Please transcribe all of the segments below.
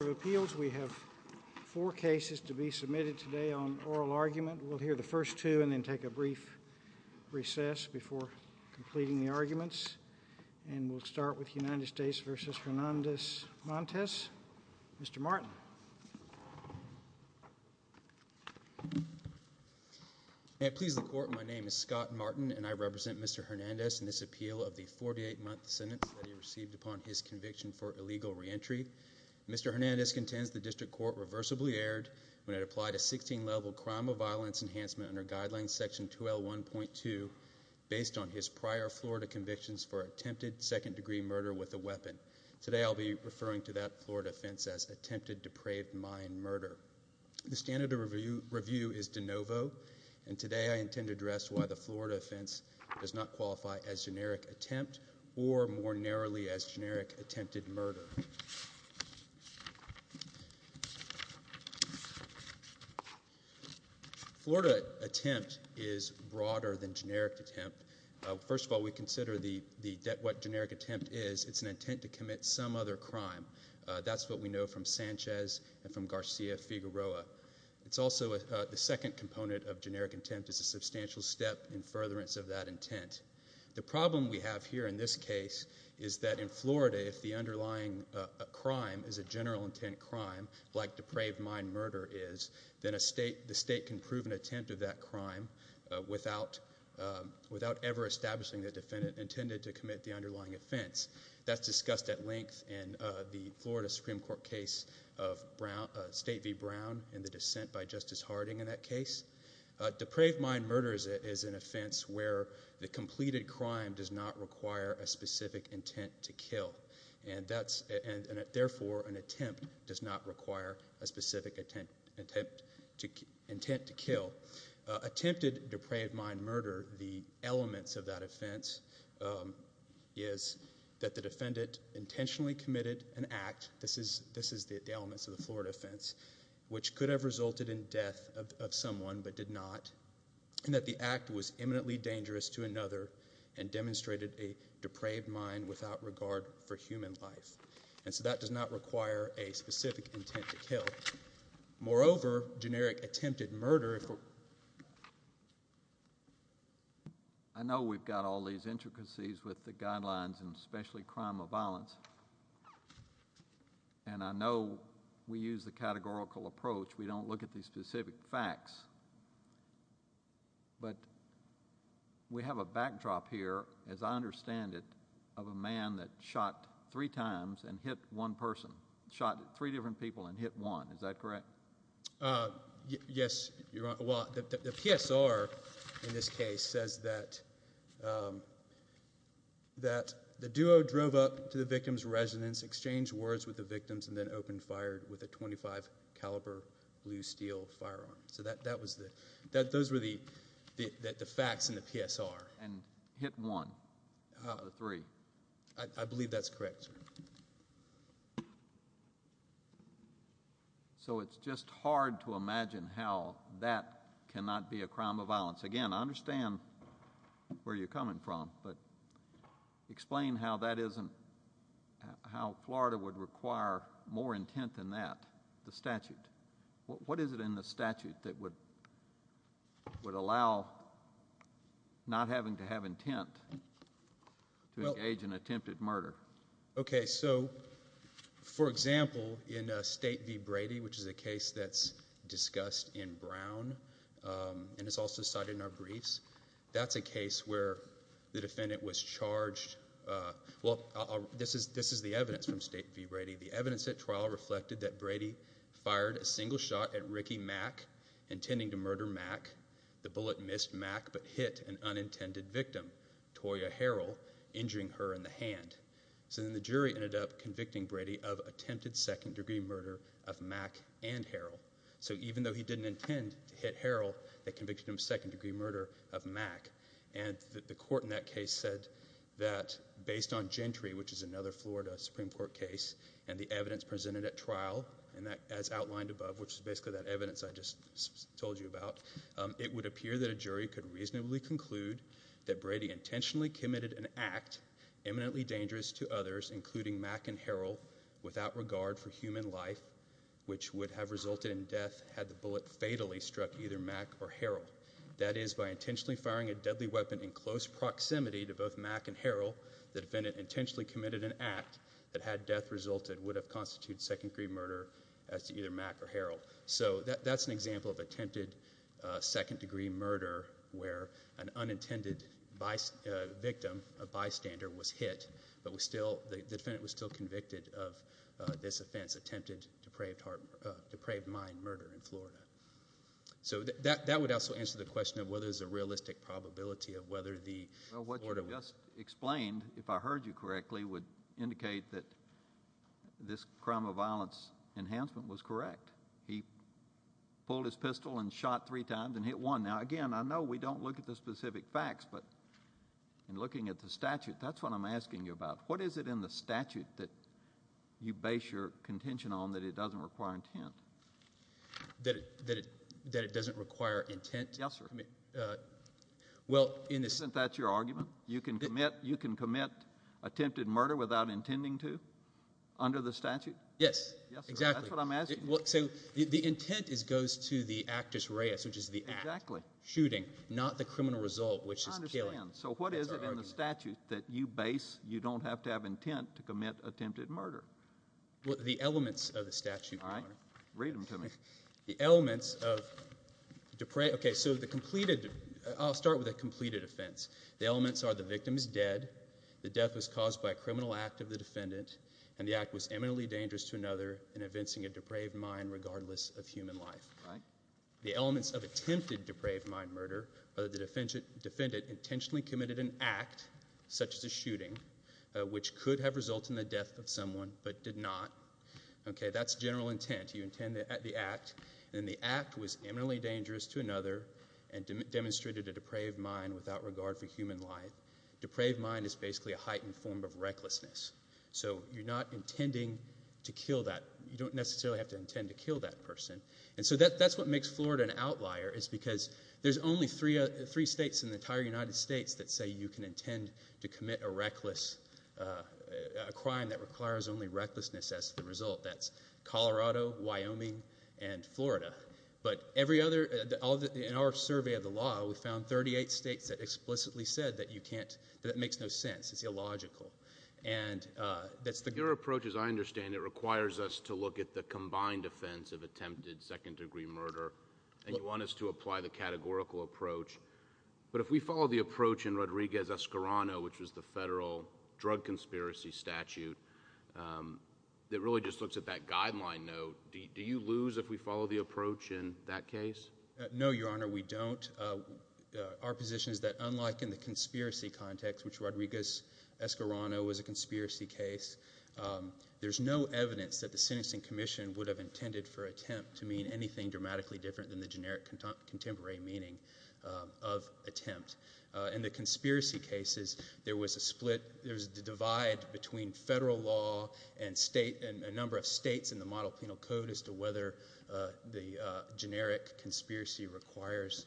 We have four cases to be submitted today on oral argument. We'll hear the first two and then take a brief recess before completing the arguments. And we'll start with United States v. Hernandez-Montes. Mr. Martin. May it please the Court, my name is Scott Martin and I represent Mr. Hernandez in this appeal of the 48-month sentence that he received upon his conviction for illegal reentry. Mr. Hernandez contends the District Court reversibly erred when it applied a 16-level crime of violence enhancement under Guidelines Section 2L1.2 based on his prior Florida convictions for attempted second-degree murder with a weapon. Today I'll be referring to that Florida offense as attempted depraved mind murder. The standard of review is de novo and today I intend to address why the Florida offense does not qualify as generic attempt or more broadly as attempted. Florida attempt is broader than generic attempt. First of all, we consider what generic attempt is, it's an intent to commit some other crime. That's what we know from Sanchez and from Garcia Figueroa. The second component of generic attempt is a substantial step in furtherance of that intent. The problem we have here in this case is that in Florida, if the underlying crime is a general intent crime like depraved mind murder is, then the state can prove an attempt of that crime without ever establishing the defendant intended to commit the underlying offense. That's discussed at length in the Florida Supreme Court case of State v. Brown and the dissent by Justice Harding in that case. Depraved mind murder is an offense where the completed crime does not require a specific intent to kill and therefore an attempt does not require a specific intent to kill. Attempted depraved mind murder, the elements of that offense is that the defendant intentionally committed an act, this is the elements of the Florida offense, which could have resulted in death of someone but did not, and that the act was imminently dangerous to another and demonstrated a depraved mind without regard for human life. And so that does not require a specific intent to kill. Moreover, generic attempted murder, I know we've got all these intricacies with the guidelines and especially crime of violence, and I know we use the categorical approach, we don't look at these specific facts, but we have a backdrop here, as I understand it, of a man that shot three times and hit one person, shot three different people and hit one, is that correct? Yes, well the PSR in this case says that the duo drove up to the victim's residence, exchanged words with the victims and then opened fire with a .25 caliber blue steel firearm. So that was the, those were the facts in the PSR. And hit one of the three. I believe that's correct, sir. So it's just hard to imagine how that cannot be a crime of violence. Again, I understand where you're coming from, but explain how that isn't, how Florida would require more intent than that, the statute. What is it in the statute that would allow not having to have intent to engage in attempted murder? Okay, so for example, in State v. Brady, which is a case that's discussed in Brown, and it's also cited in our briefs, that's a case where the defendant was charged, well, this is the evidence from State v. Brady, the evidence at trial reflected that Brady fired a single shot at Ricky Mack, intending to murder Mack. The bullet missed Mack, but hit an unintended victim, Toya Harrell, injuring her in the hand. So then the jury ended up convicting Brady of attempted second degree murder of Mack and Harrell. So even though he didn't intend to hit Harrell, they convicted him of second degree murder of Mack. And the court in that case said that based on Gentry, which is another Florida Supreme Court case, and the evidence presented at trial, as outlined above, which is basically that evidence I just told you about, it would appear that a jury could reasonably conclude that Brady intentionally committed an act, eminently dangerous to others, including Mack and Harrell, without regard for human life, which would have resulted in death had the bullet fatally struck either Mack or Harrell. That is, by intentionally firing a deadly weapon in close proximity to both Mack and Harrell, the defendant intentionally committed an act that, had death resulted, would have constituted second degree murder as to either Mack or Harrell. So that's an example of attempted second degree murder where an unintended victim, a bystander, was hit, but the defendant was still convicted of this offense, attempted depraved mind murder in Florida. So that would also answer the question of whether there's a realistic probability of whether the Florida... Well, what you just explained, if I heard you correctly, would indicate that this crime of violence enhancement was correct. He pulled his pistol and shot three times and hit one. Now, again, I know we don't look at the specific facts, but in looking at the statute, that's what I'm asking you about. What is it in the statute that you base your contention on that it doesn't require intent? That it doesn't require intent? Yes, sir. Well, in the... Isn't that your argument? You can commit attempted murder without intending to under the statute? Yes, exactly. Yes, sir. That's what I'm asking. The intent goes to the actus reus, which is the act. Exactly. Shooting, not the criminal result, which is killing. I understand. So what is it in the statute that you base you don't have to have intent to commit attempted murder? The elements of the statute... All right. Read them to me. The elements of... Okay, so the completed... I'll start with the completed offense. The elements are the victim is dead, the death was caused by a criminal act of the defendant, and the act was eminently dangerous to another in evincing a depraved mind regardless of attempted depraved mind murder, but the defendant intentionally committed an act such as a shooting, which could have resulted in the death of someone, but did not. Okay, that's general intent. You intend the act, and the act was eminently dangerous to another and demonstrated a depraved mind without regard for human life. Depraved mind is basically a heightened form of recklessness. So you're not intending to kill that... You don't necessarily have to intend to kill that person. And so that's what makes Florida an outlier, is because there's only three states in the entire United States that say you can intend to commit a reckless... a crime that requires only recklessness as the result. That's Colorado, Wyoming, and Florida. But every other... In our survey of the law, we found 38 states that explicitly said that you can't... that makes no sense. It's illogical. And that's the... You want us to look at the combined offense of attempted second-degree murder, and you want us to apply the categorical approach. But if we follow the approach in Rodriguez-Escarano, which was the federal drug conspiracy statute, that really just looks at that guideline note, do you lose if we follow the approach in that case? No, Your Honor, we don't. Our position is that unlike in the conspiracy context, which there's no evidence that the sentencing commission would have intended for attempt to mean anything dramatically different than the generic contemporary meaning of attempt. In the conspiracy cases, there was a split... there was a divide between federal law and state... and a number of states in the model penal code as to whether the generic conspiracy requires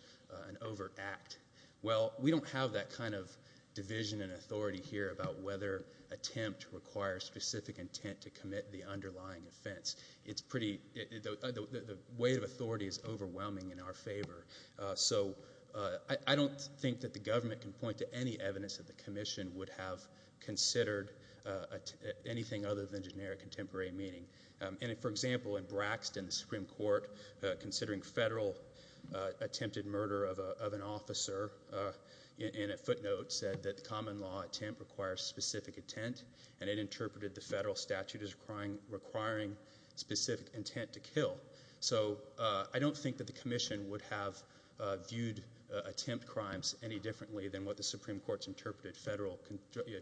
an overt act. Well, we don't have that kind of division and authority here about whether attempt requires specific intent to commit the underlying offense. It's pretty... the weight of authority is overwhelming in our favor. So, I don't think that the government can point to any evidence that the commission would have considered anything other than generic contemporary meaning. And, for example, in Braxton, the Supreme Court, considering federal attempted murder of an officer in a footnote said that the common law attempt requires specific intent, and it interpreted the federal statute as requiring specific intent to kill. So, I don't think that the commission would have viewed attempt crimes any differently than what the Supreme Court's interpreted federal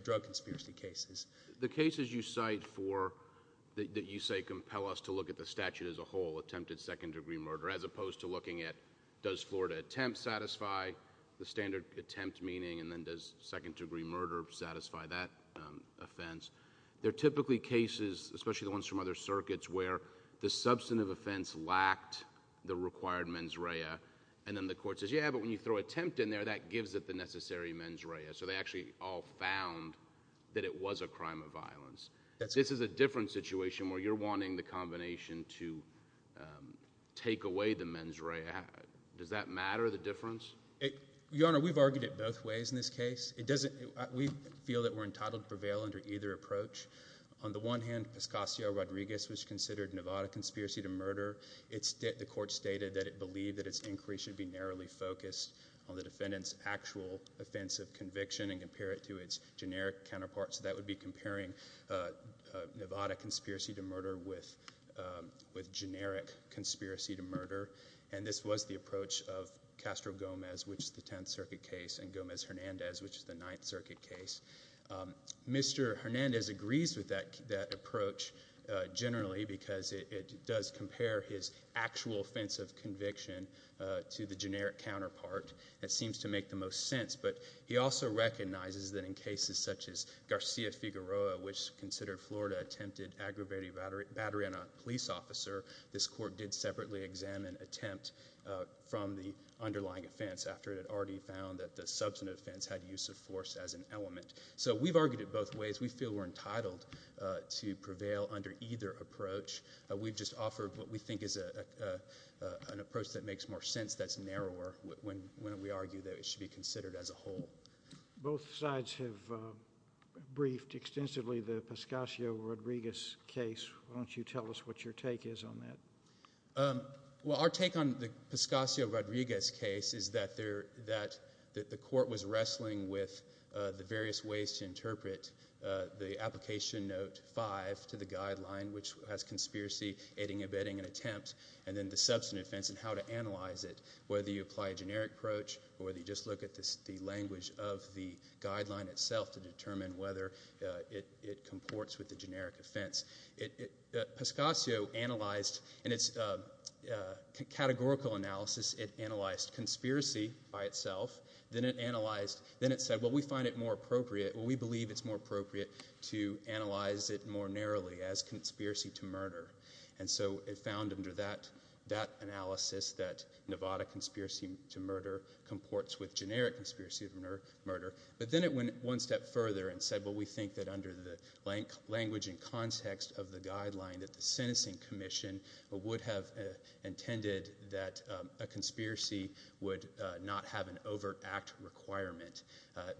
drug conspiracy cases. The cases you cite for... that you say compel us to look at the statute as a whole, attempted second-degree murder, as opposed to looking at does Florida attempt satisfy the standard attempt meaning, and then does second-degree murder satisfy that offense, they're typically cases, especially the ones from other circuits, where the substantive offense lacked the required mens rea, and then the court says, yeah, but when you throw attempt in there, that gives it the necessary mens rea. So, they actually all found that it was a crime of violence. This is a different situation where you're wanting the combination to take away the mens rea. Does that matter, the difference? Your Honor, we've argued it both ways in this case. We feel that we're entitled to prevail under either approach. On the one hand, Pascasio Rodriguez was considered Nevada conspiracy to murder. The court stated that it believed that its inquiry should be narrowly focused on the defendant's actual offense of conviction and compare it to its generic counterparts. That would be comparing Nevada conspiracy to murder with generic conspiracy to murder, and this was the approach of Castro Gomez, which is the Tenth Circuit case, and Gomez-Hernandez, which is the Ninth Circuit case. Mr. Hernandez agrees with that approach, generally, because it does compare his actual offense of conviction to the generic counterpart. It seems to make the most sense, but he also recognizes that in cases such as Garcia Figueroa, which considered Florida attempted aggravated battery on a police officer, this court did separately examine attempt from the underlying offense after it had already found that the substantive offense had use of force as an element. So, we've argued it both ways. We feel we're entitled to prevail under either approach. We've just offered what we think is an approach that makes more sense that's narrower when we argue that it should be considered as a whole. Both sides have briefed extensively the Pascasio-Rodriguez case. Why don't you tell us what your take is on that? Well, our take on the Pascasio-Rodriguez case is that the court was wrestling with the various ways to interpret the application note 5 to the guideline, which has conspiracy, aiding and abetting, and attempt, and then the substantive offense and how to analyze it, whether you apply a generic approach or whether you just look at the language of the guideline itself to determine whether it comports with the generic offense. Pascasio analyzed, in its categorical analysis, it analyzed conspiracy by itself. Then it said, well, we find it more appropriate, or we believe it's more appropriate to analyze it more narrowly as conspiracy to murder. So, it found under that analysis that Nevada conspiracy to murder comports with generic conspiracy to murder. But then it went one step further and said, well, we think that under the language and context of the guideline that the sentencing commission would have intended that a conspiracy would not have an overt act requirement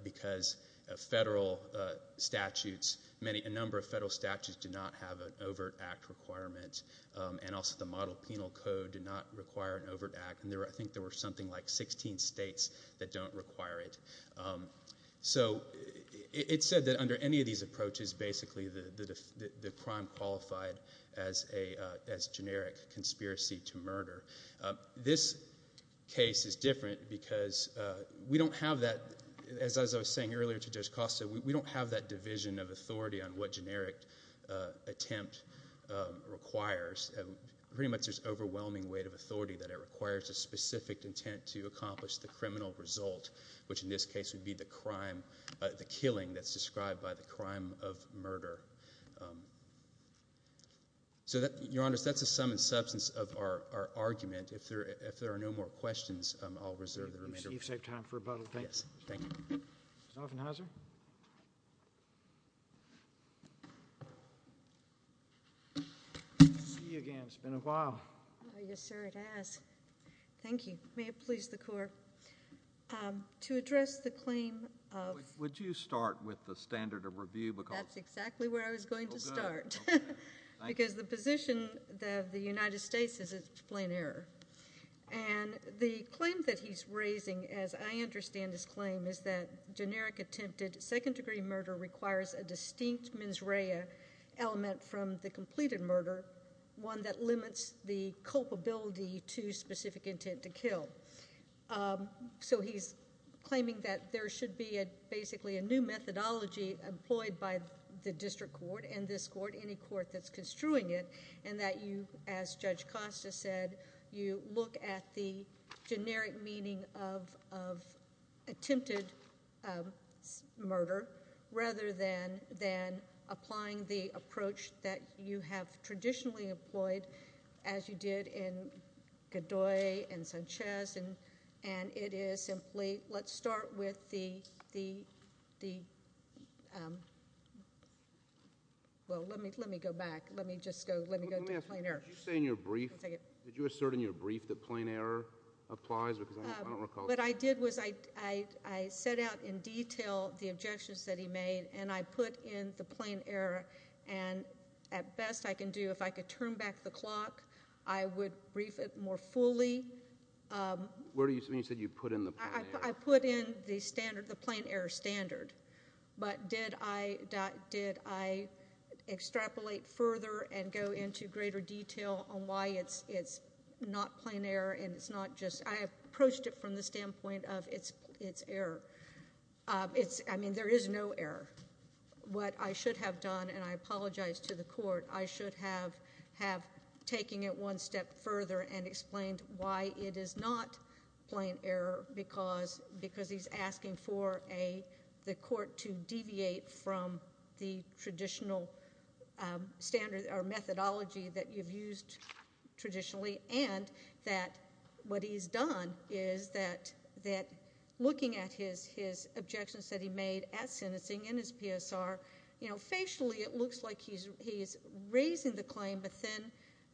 because a number of federal statutes do not have an overt act. I think there were something like 16 states that don't require it. So, it said that under any of these approaches, basically, the crime qualified as generic conspiracy to murder. This case is different because we don't have that, as I was saying earlier to Judge Costa, we don't have that division of authority on what generic attempt requires. Pretty much there's overwhelming weight of authority that it requires a specific intent to accomplish the criminal result, which in this case would be the crime, the killing that's described by the crime of murder. So, Your Honors, that's the sum and substance of our argument. If there are no more questions, I'll reserve the remainder. You've saved time for rebuttal. Thank you. Yes, thank you. See you again. It's been a while. Yes, sir, it has. Thank you. May it please the Court. To address the claim of Would you start with the standard of review? That's exactly where I was going to start. Oh, good. Thank you. Because the position of the United States is it's plain error. And the claim that he's raising, as I understand his claim, is that generic attempted second-degree murder requires a distinct mens rea element from the completed murder, one that limits the culpability to specific intent to kill. So he's claiming that there should be basically a new methodology employed by the district court and this court, any court that's construing it, and that you, as Judge Costa said, you look at the generic meaning of attempted murder rather than applying the approach that you have traditionally employed, as you did in Did you assert in your brief that plain error applies? What I did was I set out in detail the objections that he made and I put in the plain error and at best I can do, if I could turn back the clock, I would brief it more fully. Where do you mean? You said you put in the plain error. I put in the standard, the plain error standard, but did I extrapolate further and go into greater detail on why it's not plain error and it's not just, I approached it from the standpoint of it's error. I mean, there is no error. What I should have done, and I apologize to the court, I should have taken it one step further and explained why it is not plain error because he's asking for the court to deviate from the traditional standard or methodology that you've used traditionally and that what he's done is that looking at his objections that he made at sentencing in his PSR, you know, facially it looks like he's raising the claim but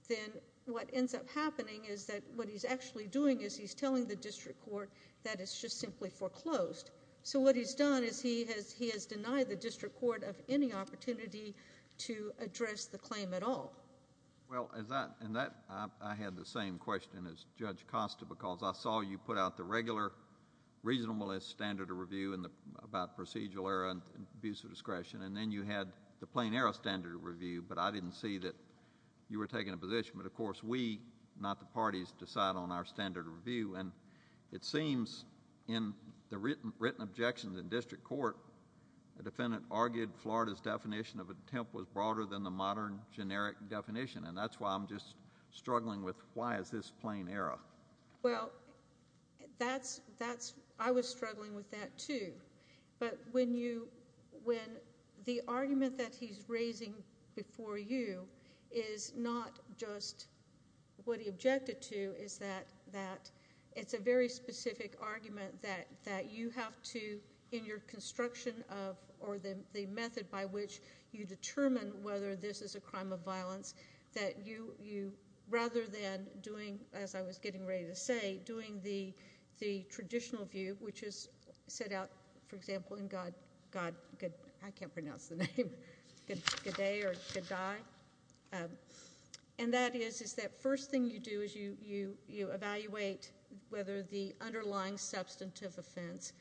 then what ends up happening is that what he's actually doing is he's telling the district court that it's just simply foreclosed. So what he's done is he has denied the district court of any opportunity to address the claim at all. Well, in that I had the same question as Judge Costa because I saw you put out the regular reasonableness standard of review about procedural error and abuse of discretion and then you had the plain error standard of review, but I didn't see that you were taking a position, but of course we, not the parties, decide on our standard of review and it seems in the written objections in district court, the defendant argued Florida's definition of attempt was broader than the modern generic definition and that's why I'm just struggling with why is this plain error. Well, that's, I was struggling with that too. But when you, when the argument that he's raising before you is not just what he objected to is that it's a very specific argument that you have to in your construction of or the method by which you determine whether this is a crime of violence that you, rather than doing, as I was getting ready to say, doing the traditional view which is set out, for example, in God, I can't pronounce the name, G'day or G'day, and that is that first thing you do is you evaluate whether the underlying substantive offense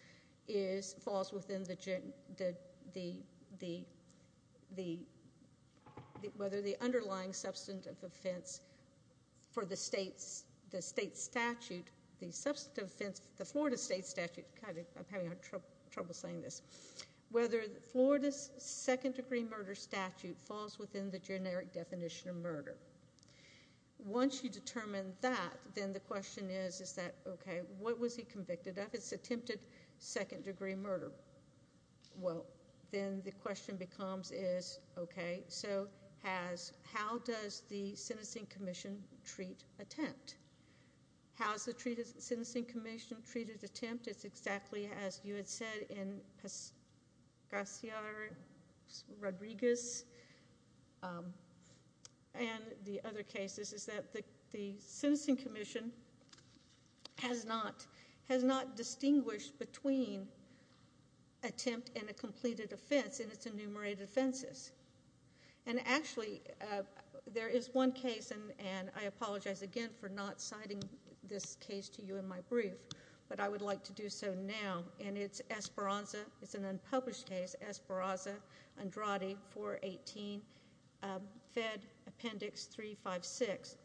is, falls within the, the, whether the underlying substantive offense for the state's, the state statute, the substantive offense, the Florida state statute, God, I'm having trouble saying this, whether Florida's second degree murder statute falls within the generic definition of murder. Once you determine that, then the question is, is that, okay, what was he convicted of? It's attempted second degree murder. Well, then the question becomes, is, okay, so has, how does the sentencing commission treat attempt? How's the treated, sentencing commission treated attempt? It's exactly as you had said in Pas, Garcia Rodriguez and the other cases, is that the, the sentencing commission has not, has not distinguished between attempt and a completed offense in its enumerated offenses. And actually, there is one case, and, and I apologize again for not citing this case to you in my brief, but I would like to do so now, and it's Esperanza, it's an unpublished case, Esperanza, Andrade, 418, Fed Appendix 356.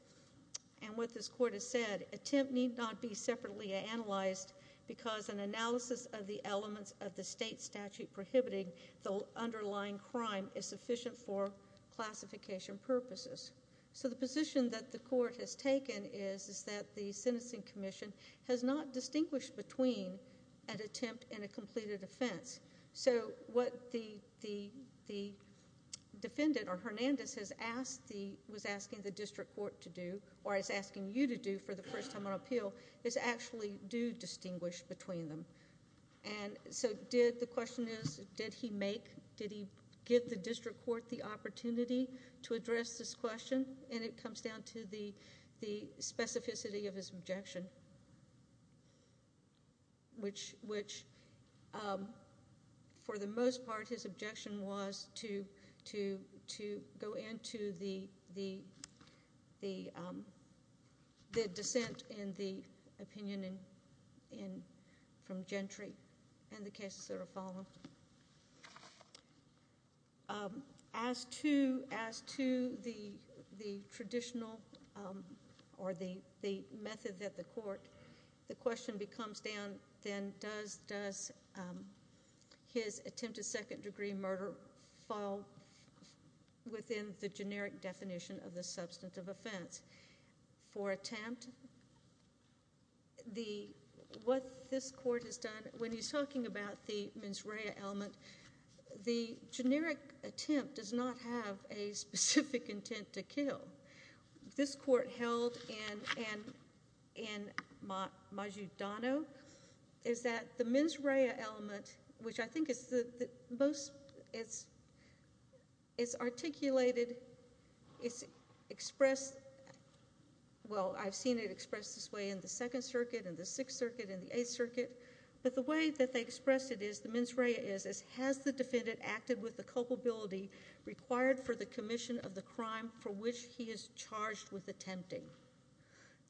And what this court has said, attempt need not be separately analyzed because an analysis of the elements of the state statute prohibiting the underlying crime is sufficient for classification purposes. So the position that the court has taken is, is that the sentencing commission has not distinguished between an attempt and a completed offense. So what the, the, the defendant or Hernandez has asked the, was asking the district court to do, or is asking you to do for the first time on appeal, is actually do distinguish between them. And so did, the question is, did he make, did he give the district court the opportunity to address this question? And it comes down to the, the specificity of his objection, which, which for the most part, his objection was to, to, to go into the, the, the, the dissent in the opinion in, in, from Gentry and the cases that are following. As to, as to the, the traditional or the, the method that the court, the question becomes then, then does, does his attempted second degree murder fall within the generic definition of the substantive offense? For attempt, the, what this court has done, when he's talking about the mens rea element, the generic attempt does not have a specific intent to kill. This court held in, in, in Majudano, is that the mens rea element, which I think is the, the most, it's, it's articulated, it's expressed, well, I've seen it expressed this way in the Second Circuit, in the Sixth Circuit, in the Eighth Circuit, but the way that they expressed it is, the mens rea is, is has the defendant acted with the culpability required for the commission of the crime for which he is charged with attempting?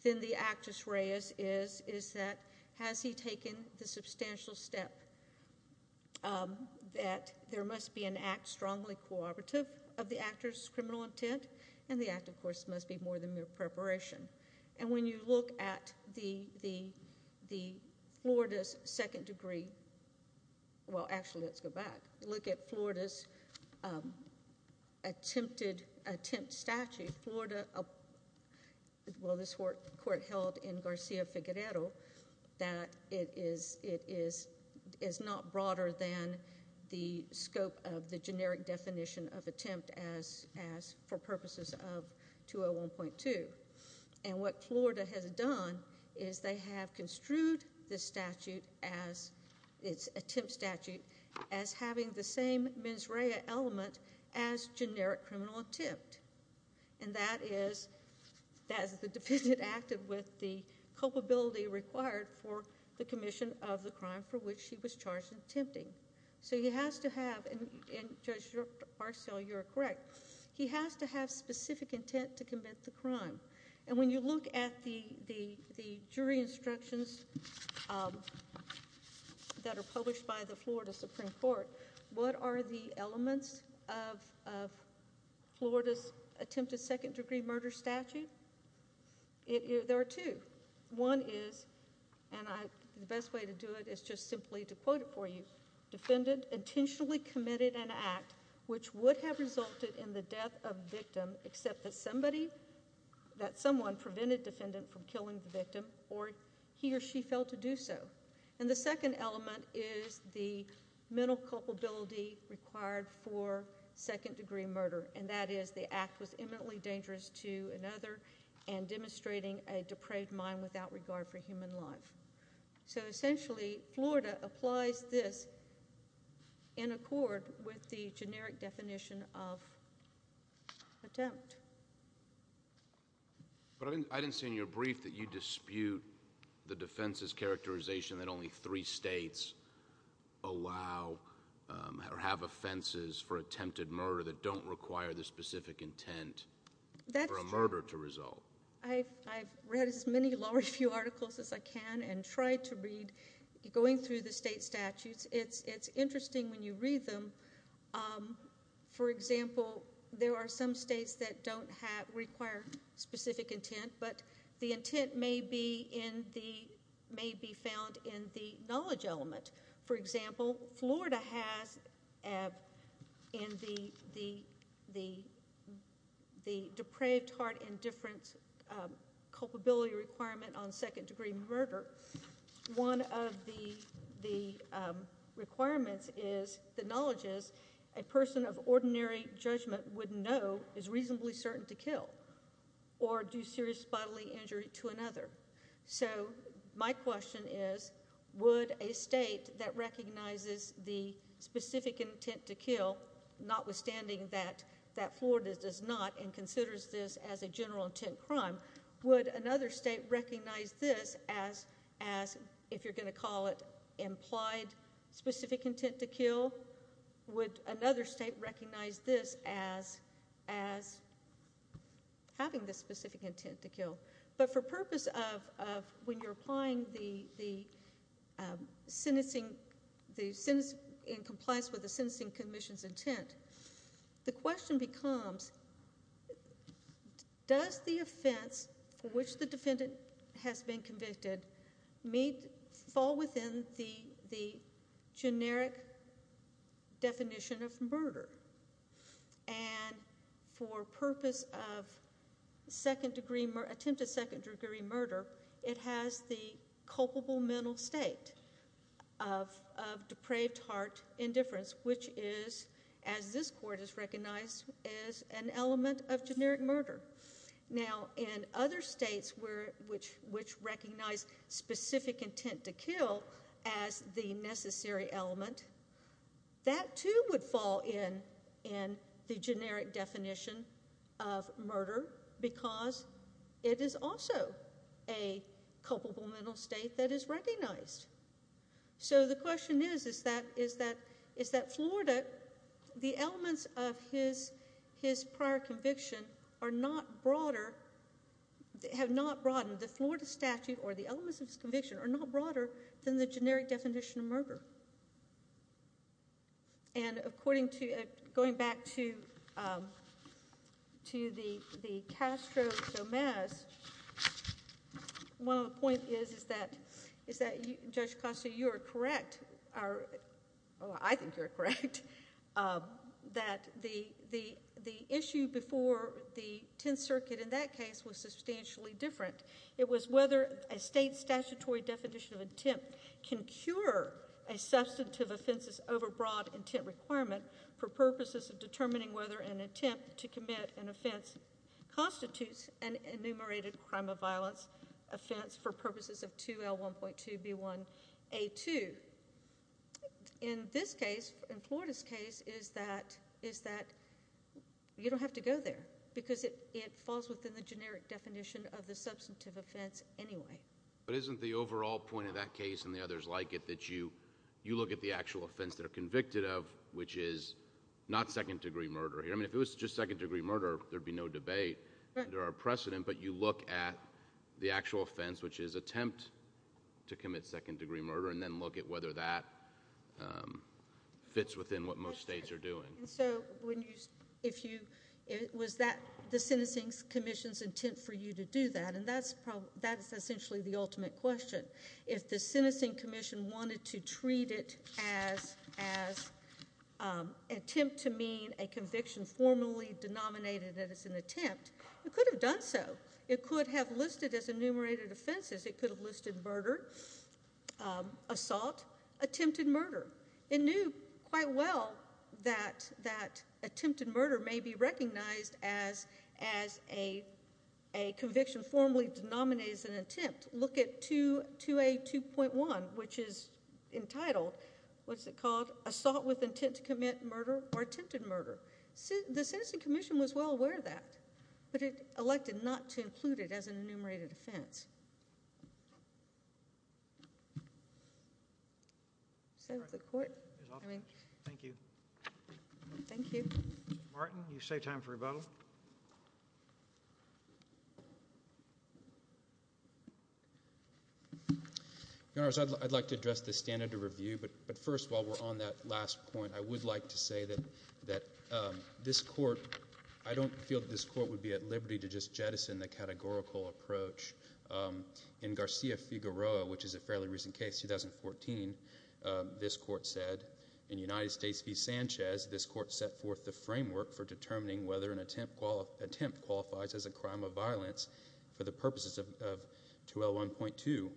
Then the actus reus is, is that has he taken the substantial step that there must be an act strongly cooperative of the actor's criminal intent? And the act, of course, must be more than mere preparation. And when you look at the, the, the Florida's second degree, well, actually, let's go back. Look at Florida's attempted, attempt statute. Florida, well, this court, the court held in Garcia Figueredo, that it is, it is, is not broader than the scope of the generic definition of attempt as, as for purposes of 201.2. And what Florida has done is they have construed this statute as, it's attempt statute, as having the same mens rea element as generic criminal attempt. And that is, that is the defendant acted with the culpability required for the commission of the crime for which he was charged in attempting. So he has to have, and Judge Marcel, you are correct, he has to have specific intent to commit the crime. And when you look at the, the, the jury instructions that are published by the Florida Supreme Court, what are the elements of, of Florida's attempted second degree murder statute? It, there are two. One is, and I, the best way to do it is just simply to quote it for you. Defendant intentionally committed an act which would have resulted in the death of the victim except that somebody, that someone prevented defendant from killing the victim or he or she failed to do so. And the second element is the mental culpability required for second degree murder. And that is, the act was imminently dangerous to another and demonstrating a depraved mind without regard for human life. So essentially, Florida applies this in accord with the generic definition of attempt. But I didn't, I didn't see in your brief that you dispute the defense's characterization that only three states allow or have offenses for attempted murder that don't require the specific intent for a murder to result. That's true. I've, I've read as many law review articles as I can and tried to read, going through the state statutes, it's, it's interesting when you read them. For example, there are some states that don't have, require specific intent, but the intent may be in the, may be found in the knowledge element. For example, Florida has in the, the, the depraved heart indifference culpability requirement on second degree murder. One of the, the requirements is, the knowledge is, a person of ordinary judgment would know, is reasonably certain to kill or do serious bodily injury to another. So my question is, would a state that recognizes the specific intent to kill, notwithstanding that, that Florida does not and considers this as a general intent crime, would another state recognize this as, as, if you're going to call it implied specific intent to kill? Would another state recognize this as, as having the specific intent to kill? But for purpose of, of when you're applying the, the sentencing, the sentence in compliance with the sentencing commission's intent, the question becomes, does the offense for which the defendant has been convicted meet, fall within the, the generic definition of murder? And for purpose of second degree, attempt of second degree murder, it has the culpable mental state of, of depraved heart indifference, which is, as this court has recognized, is an element of generic murder. Now, in other states where, which, which recognize specific intent to kill as the necessary element, that too would fall in, in the generic definition of murder because it is also a culpable mental state that is recognized. So, the question is, is that, is that, is that Florida, the elements of his, his prior conviction are not broader, have not broadened. The Florida statute or the elements of his conviction are not broader than the generic definition of murder. And according to, going back to, to the, the Castro-Gomez, one of the points is, is that, is that Judge Costa, you are correct, or I think you're correct, that the, the, the issue before the Tenth Circuit in that case was substantially different. In fact, it was whether a state statutory definition of intent can cure a substantive offense's overbroad intent requirement for purposes of determining whether an attempt to commit an offense constitutes an enumerated crime of violence offense for purposes of 2L1.2B1A2. In this case, in Florida's case, is that, is that you don't have to go there because it, it falls within the generic definition of the substantive offense anyway. But isn't the overall point of that case and the others like it that you, you look at the actual offense that are convicted of, which is not second degree murder here. I mean, if it was just second degree murder, there'd be no debate. Right. There are precedent, but you look at the actual offense, which is attempt to commit second degree murder, and then look at whether that fits within what most states are doing. And so when you, if you, was that the Sentencing Commission's intent for you to do that? And that's, that's essentially the ultimate question. If the Sentencing Commission wanted to treat it as, as attempt to mean a conviction formally denominated as an attempt, it could have done so. It could have listed as enumerated offenses. It could have listed murder, assault, attempted murder. It knew quite well that, that attempted murder may be recognized as, as a, a conviction formally denominated as an attempt. Look at 2, 2A 2.1, which is entitled, what's it called? Assault with intent to commit murder or attempted murder. The Sentencing Commission was well aware of that, but it elected not to include it as an enumerated offense. Is that the court? Thank you. Thank you. Martin, you save time for rebuttal. Your Honors, I'd, I'd like to address the standard of review, but, but first while we're on that last point, I would like to say that, that this court, I don't feel that this court would be at liberty to just jettison the categorical approach. In Garcia-Figueroa, which is a fairly recent case, 2014, this court said, in United States v. Sanchez, this court set forth the framework for determining whether an attempt qualifies as a crime of violence for the purposes of 2L1.2.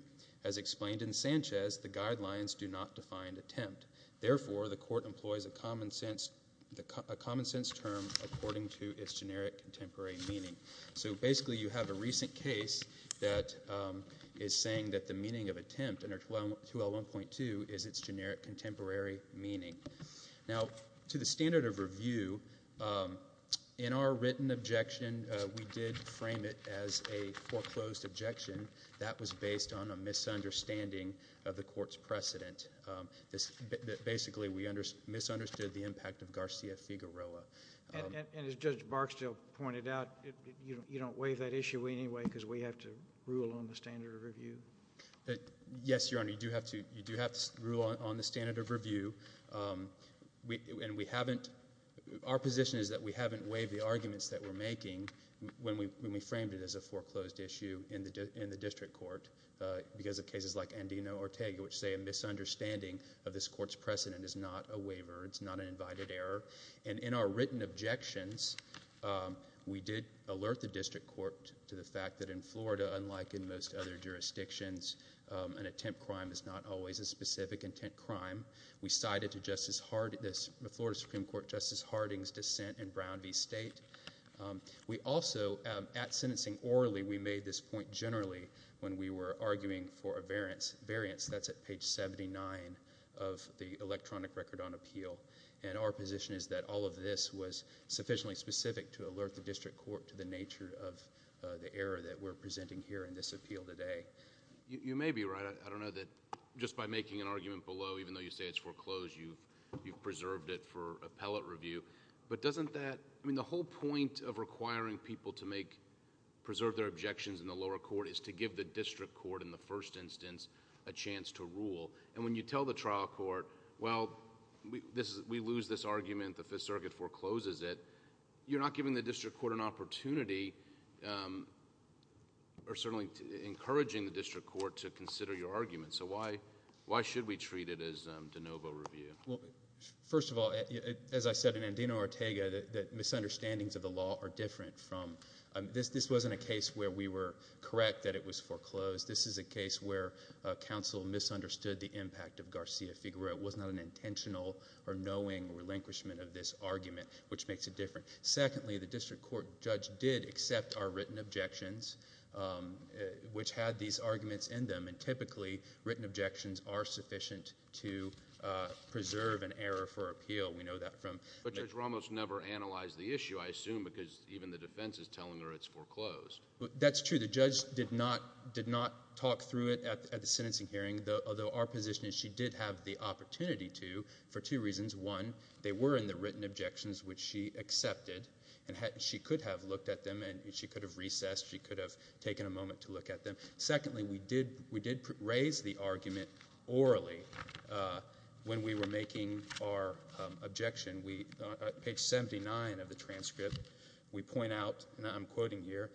As explained in Sanchez, the guidelines do not define attempt. Therefore, the court employs a common sense, a common sense term according to its generic contemporary meaning. So basically, you have a recent case that is saying that the meaning of attempt under 2L1.2 is its generic contemporary meaning. Now, to the standard of review, in our written objection, we did frame it as a foreclosed objection that was based on a misunderstanding of the court's precedent. Basically, we misunderstood the impact of Garcia-Figueroa. And as Judge Barksdale pointed out, you don't waive that issue anyway because we have to rule on the standard of review? Yes, Your Honor, you do have to rule on the standard of review. And we haven't, our position is that we haven't waived the arguments that we're making when we framed it as a foreclosed issue in the district court because of cases like Andino-Ortega which say a misunderstanding of this court's precedent is not a waiver, it's not an invited error. And in our written objections, we did alert the district court to the fact that in Florida, unlike in most other jurisdictions, an attempt crime is not always a specific intent crime. We cited the Florida Supreme Court Justice Harding's dissent in Brown v. State. We also, at sentencing orally, we made this point generally when we were arguing for a case at page 79 of the electronic record on appeal. And our position is that all of this was sufficiently specific to alert the district court to the nature of the error that we're presenting here in this appeal today. You may be right. I don't know that just by making an argument below, even though you say it's foreclosed, you've preserved it for appellate review. But doesn't that, I mean the whole point of requiring people to make, preserve their objections in the lower court is to give the district court, in the first instance, a chance to rule. And when you tell the trial court, well, we lose this argument, the Fifth Circuit forecloses it, you're not giving the district court an opportunity or certainly encouraging the district court to consider your argument. So why should we treat it as de novo review? Well, first of all, as I said, in Andino or Ortega, the misunderstandings of the law are different from... This wasn't a case where we were correct that it was foreclosed. This is a case where counsel misunderstood the impact of Garcia-Figueroa. It was not an intentional or knowing relinquishment of this argument, which makes it different. Secondly, the district court judge did accept our written objections, which had these arguments in them. And typically, written objections are sufficient to preserve an error for appeal. We know that from... But Judge Ramos never analyzed the issue, I assume, because even the defense is telling her it's foreclosed. That's true. The judge did not talk through it at the sentencing hearing, although our position is she did have the opportunity to for two reasons. One, they were in the written objections, which she accepted, and she could have looked at them and she could have recessed. She could have taken a moment to look at them. Secondly, we did raise the argument orally when we were making our objection. On page 79 of the transcript, we point out, and I'm quoting here,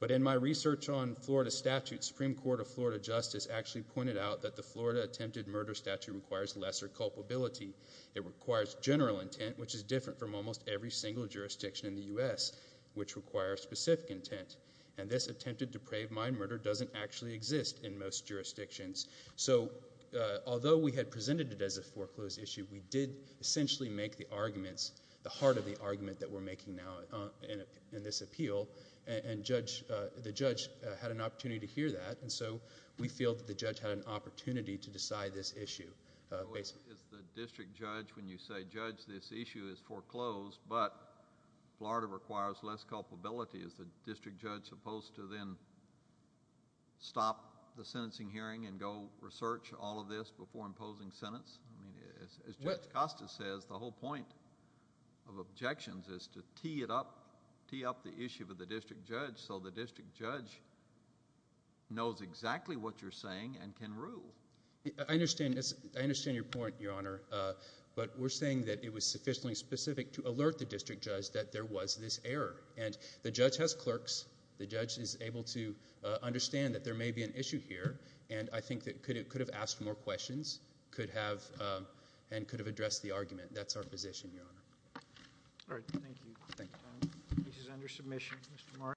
but in my research on Florida statutes, Supreme Court of Florida Justice actually pointed out that the Florida attempted murder statute requires lesser culpability. It requires general intent, which is different from almost every single jurisdiction in the U.S., which requires specific intent. And this attempted depraved mind murder doesn't actually exist in most jurisdictions. So although we had presented it as a foreclosed issue, we did essentially make the arguments, the heart of the argument that we're making now in this appeal, and the judge had an opportunity to hear that, and so we feel that the judge had an opportunity to decide this issue. So is the district judge, when you say, Judge, this issue is foreclosed, but Florida requires less culpability, is the district judge supposed to then stop the sentencing hearing and go research all of this before imposing sentence? I mean, as Judge Costa says, the whole point of objections is to tee it up, tee up the issue with the district judge so the district judge knows exactly what you're saying and can rule. I understand this. I understand your point, Your Honor, but we're saying that it was sufficiently specific to alert the district judge that there was this error, and the judge has clerks. The judge is able to understand that there may be an issue here, and I think that it could have asked more questions, could have addressed the argument. That's our position, Your Honor. All right. Thank you. Thank you. This is under submission.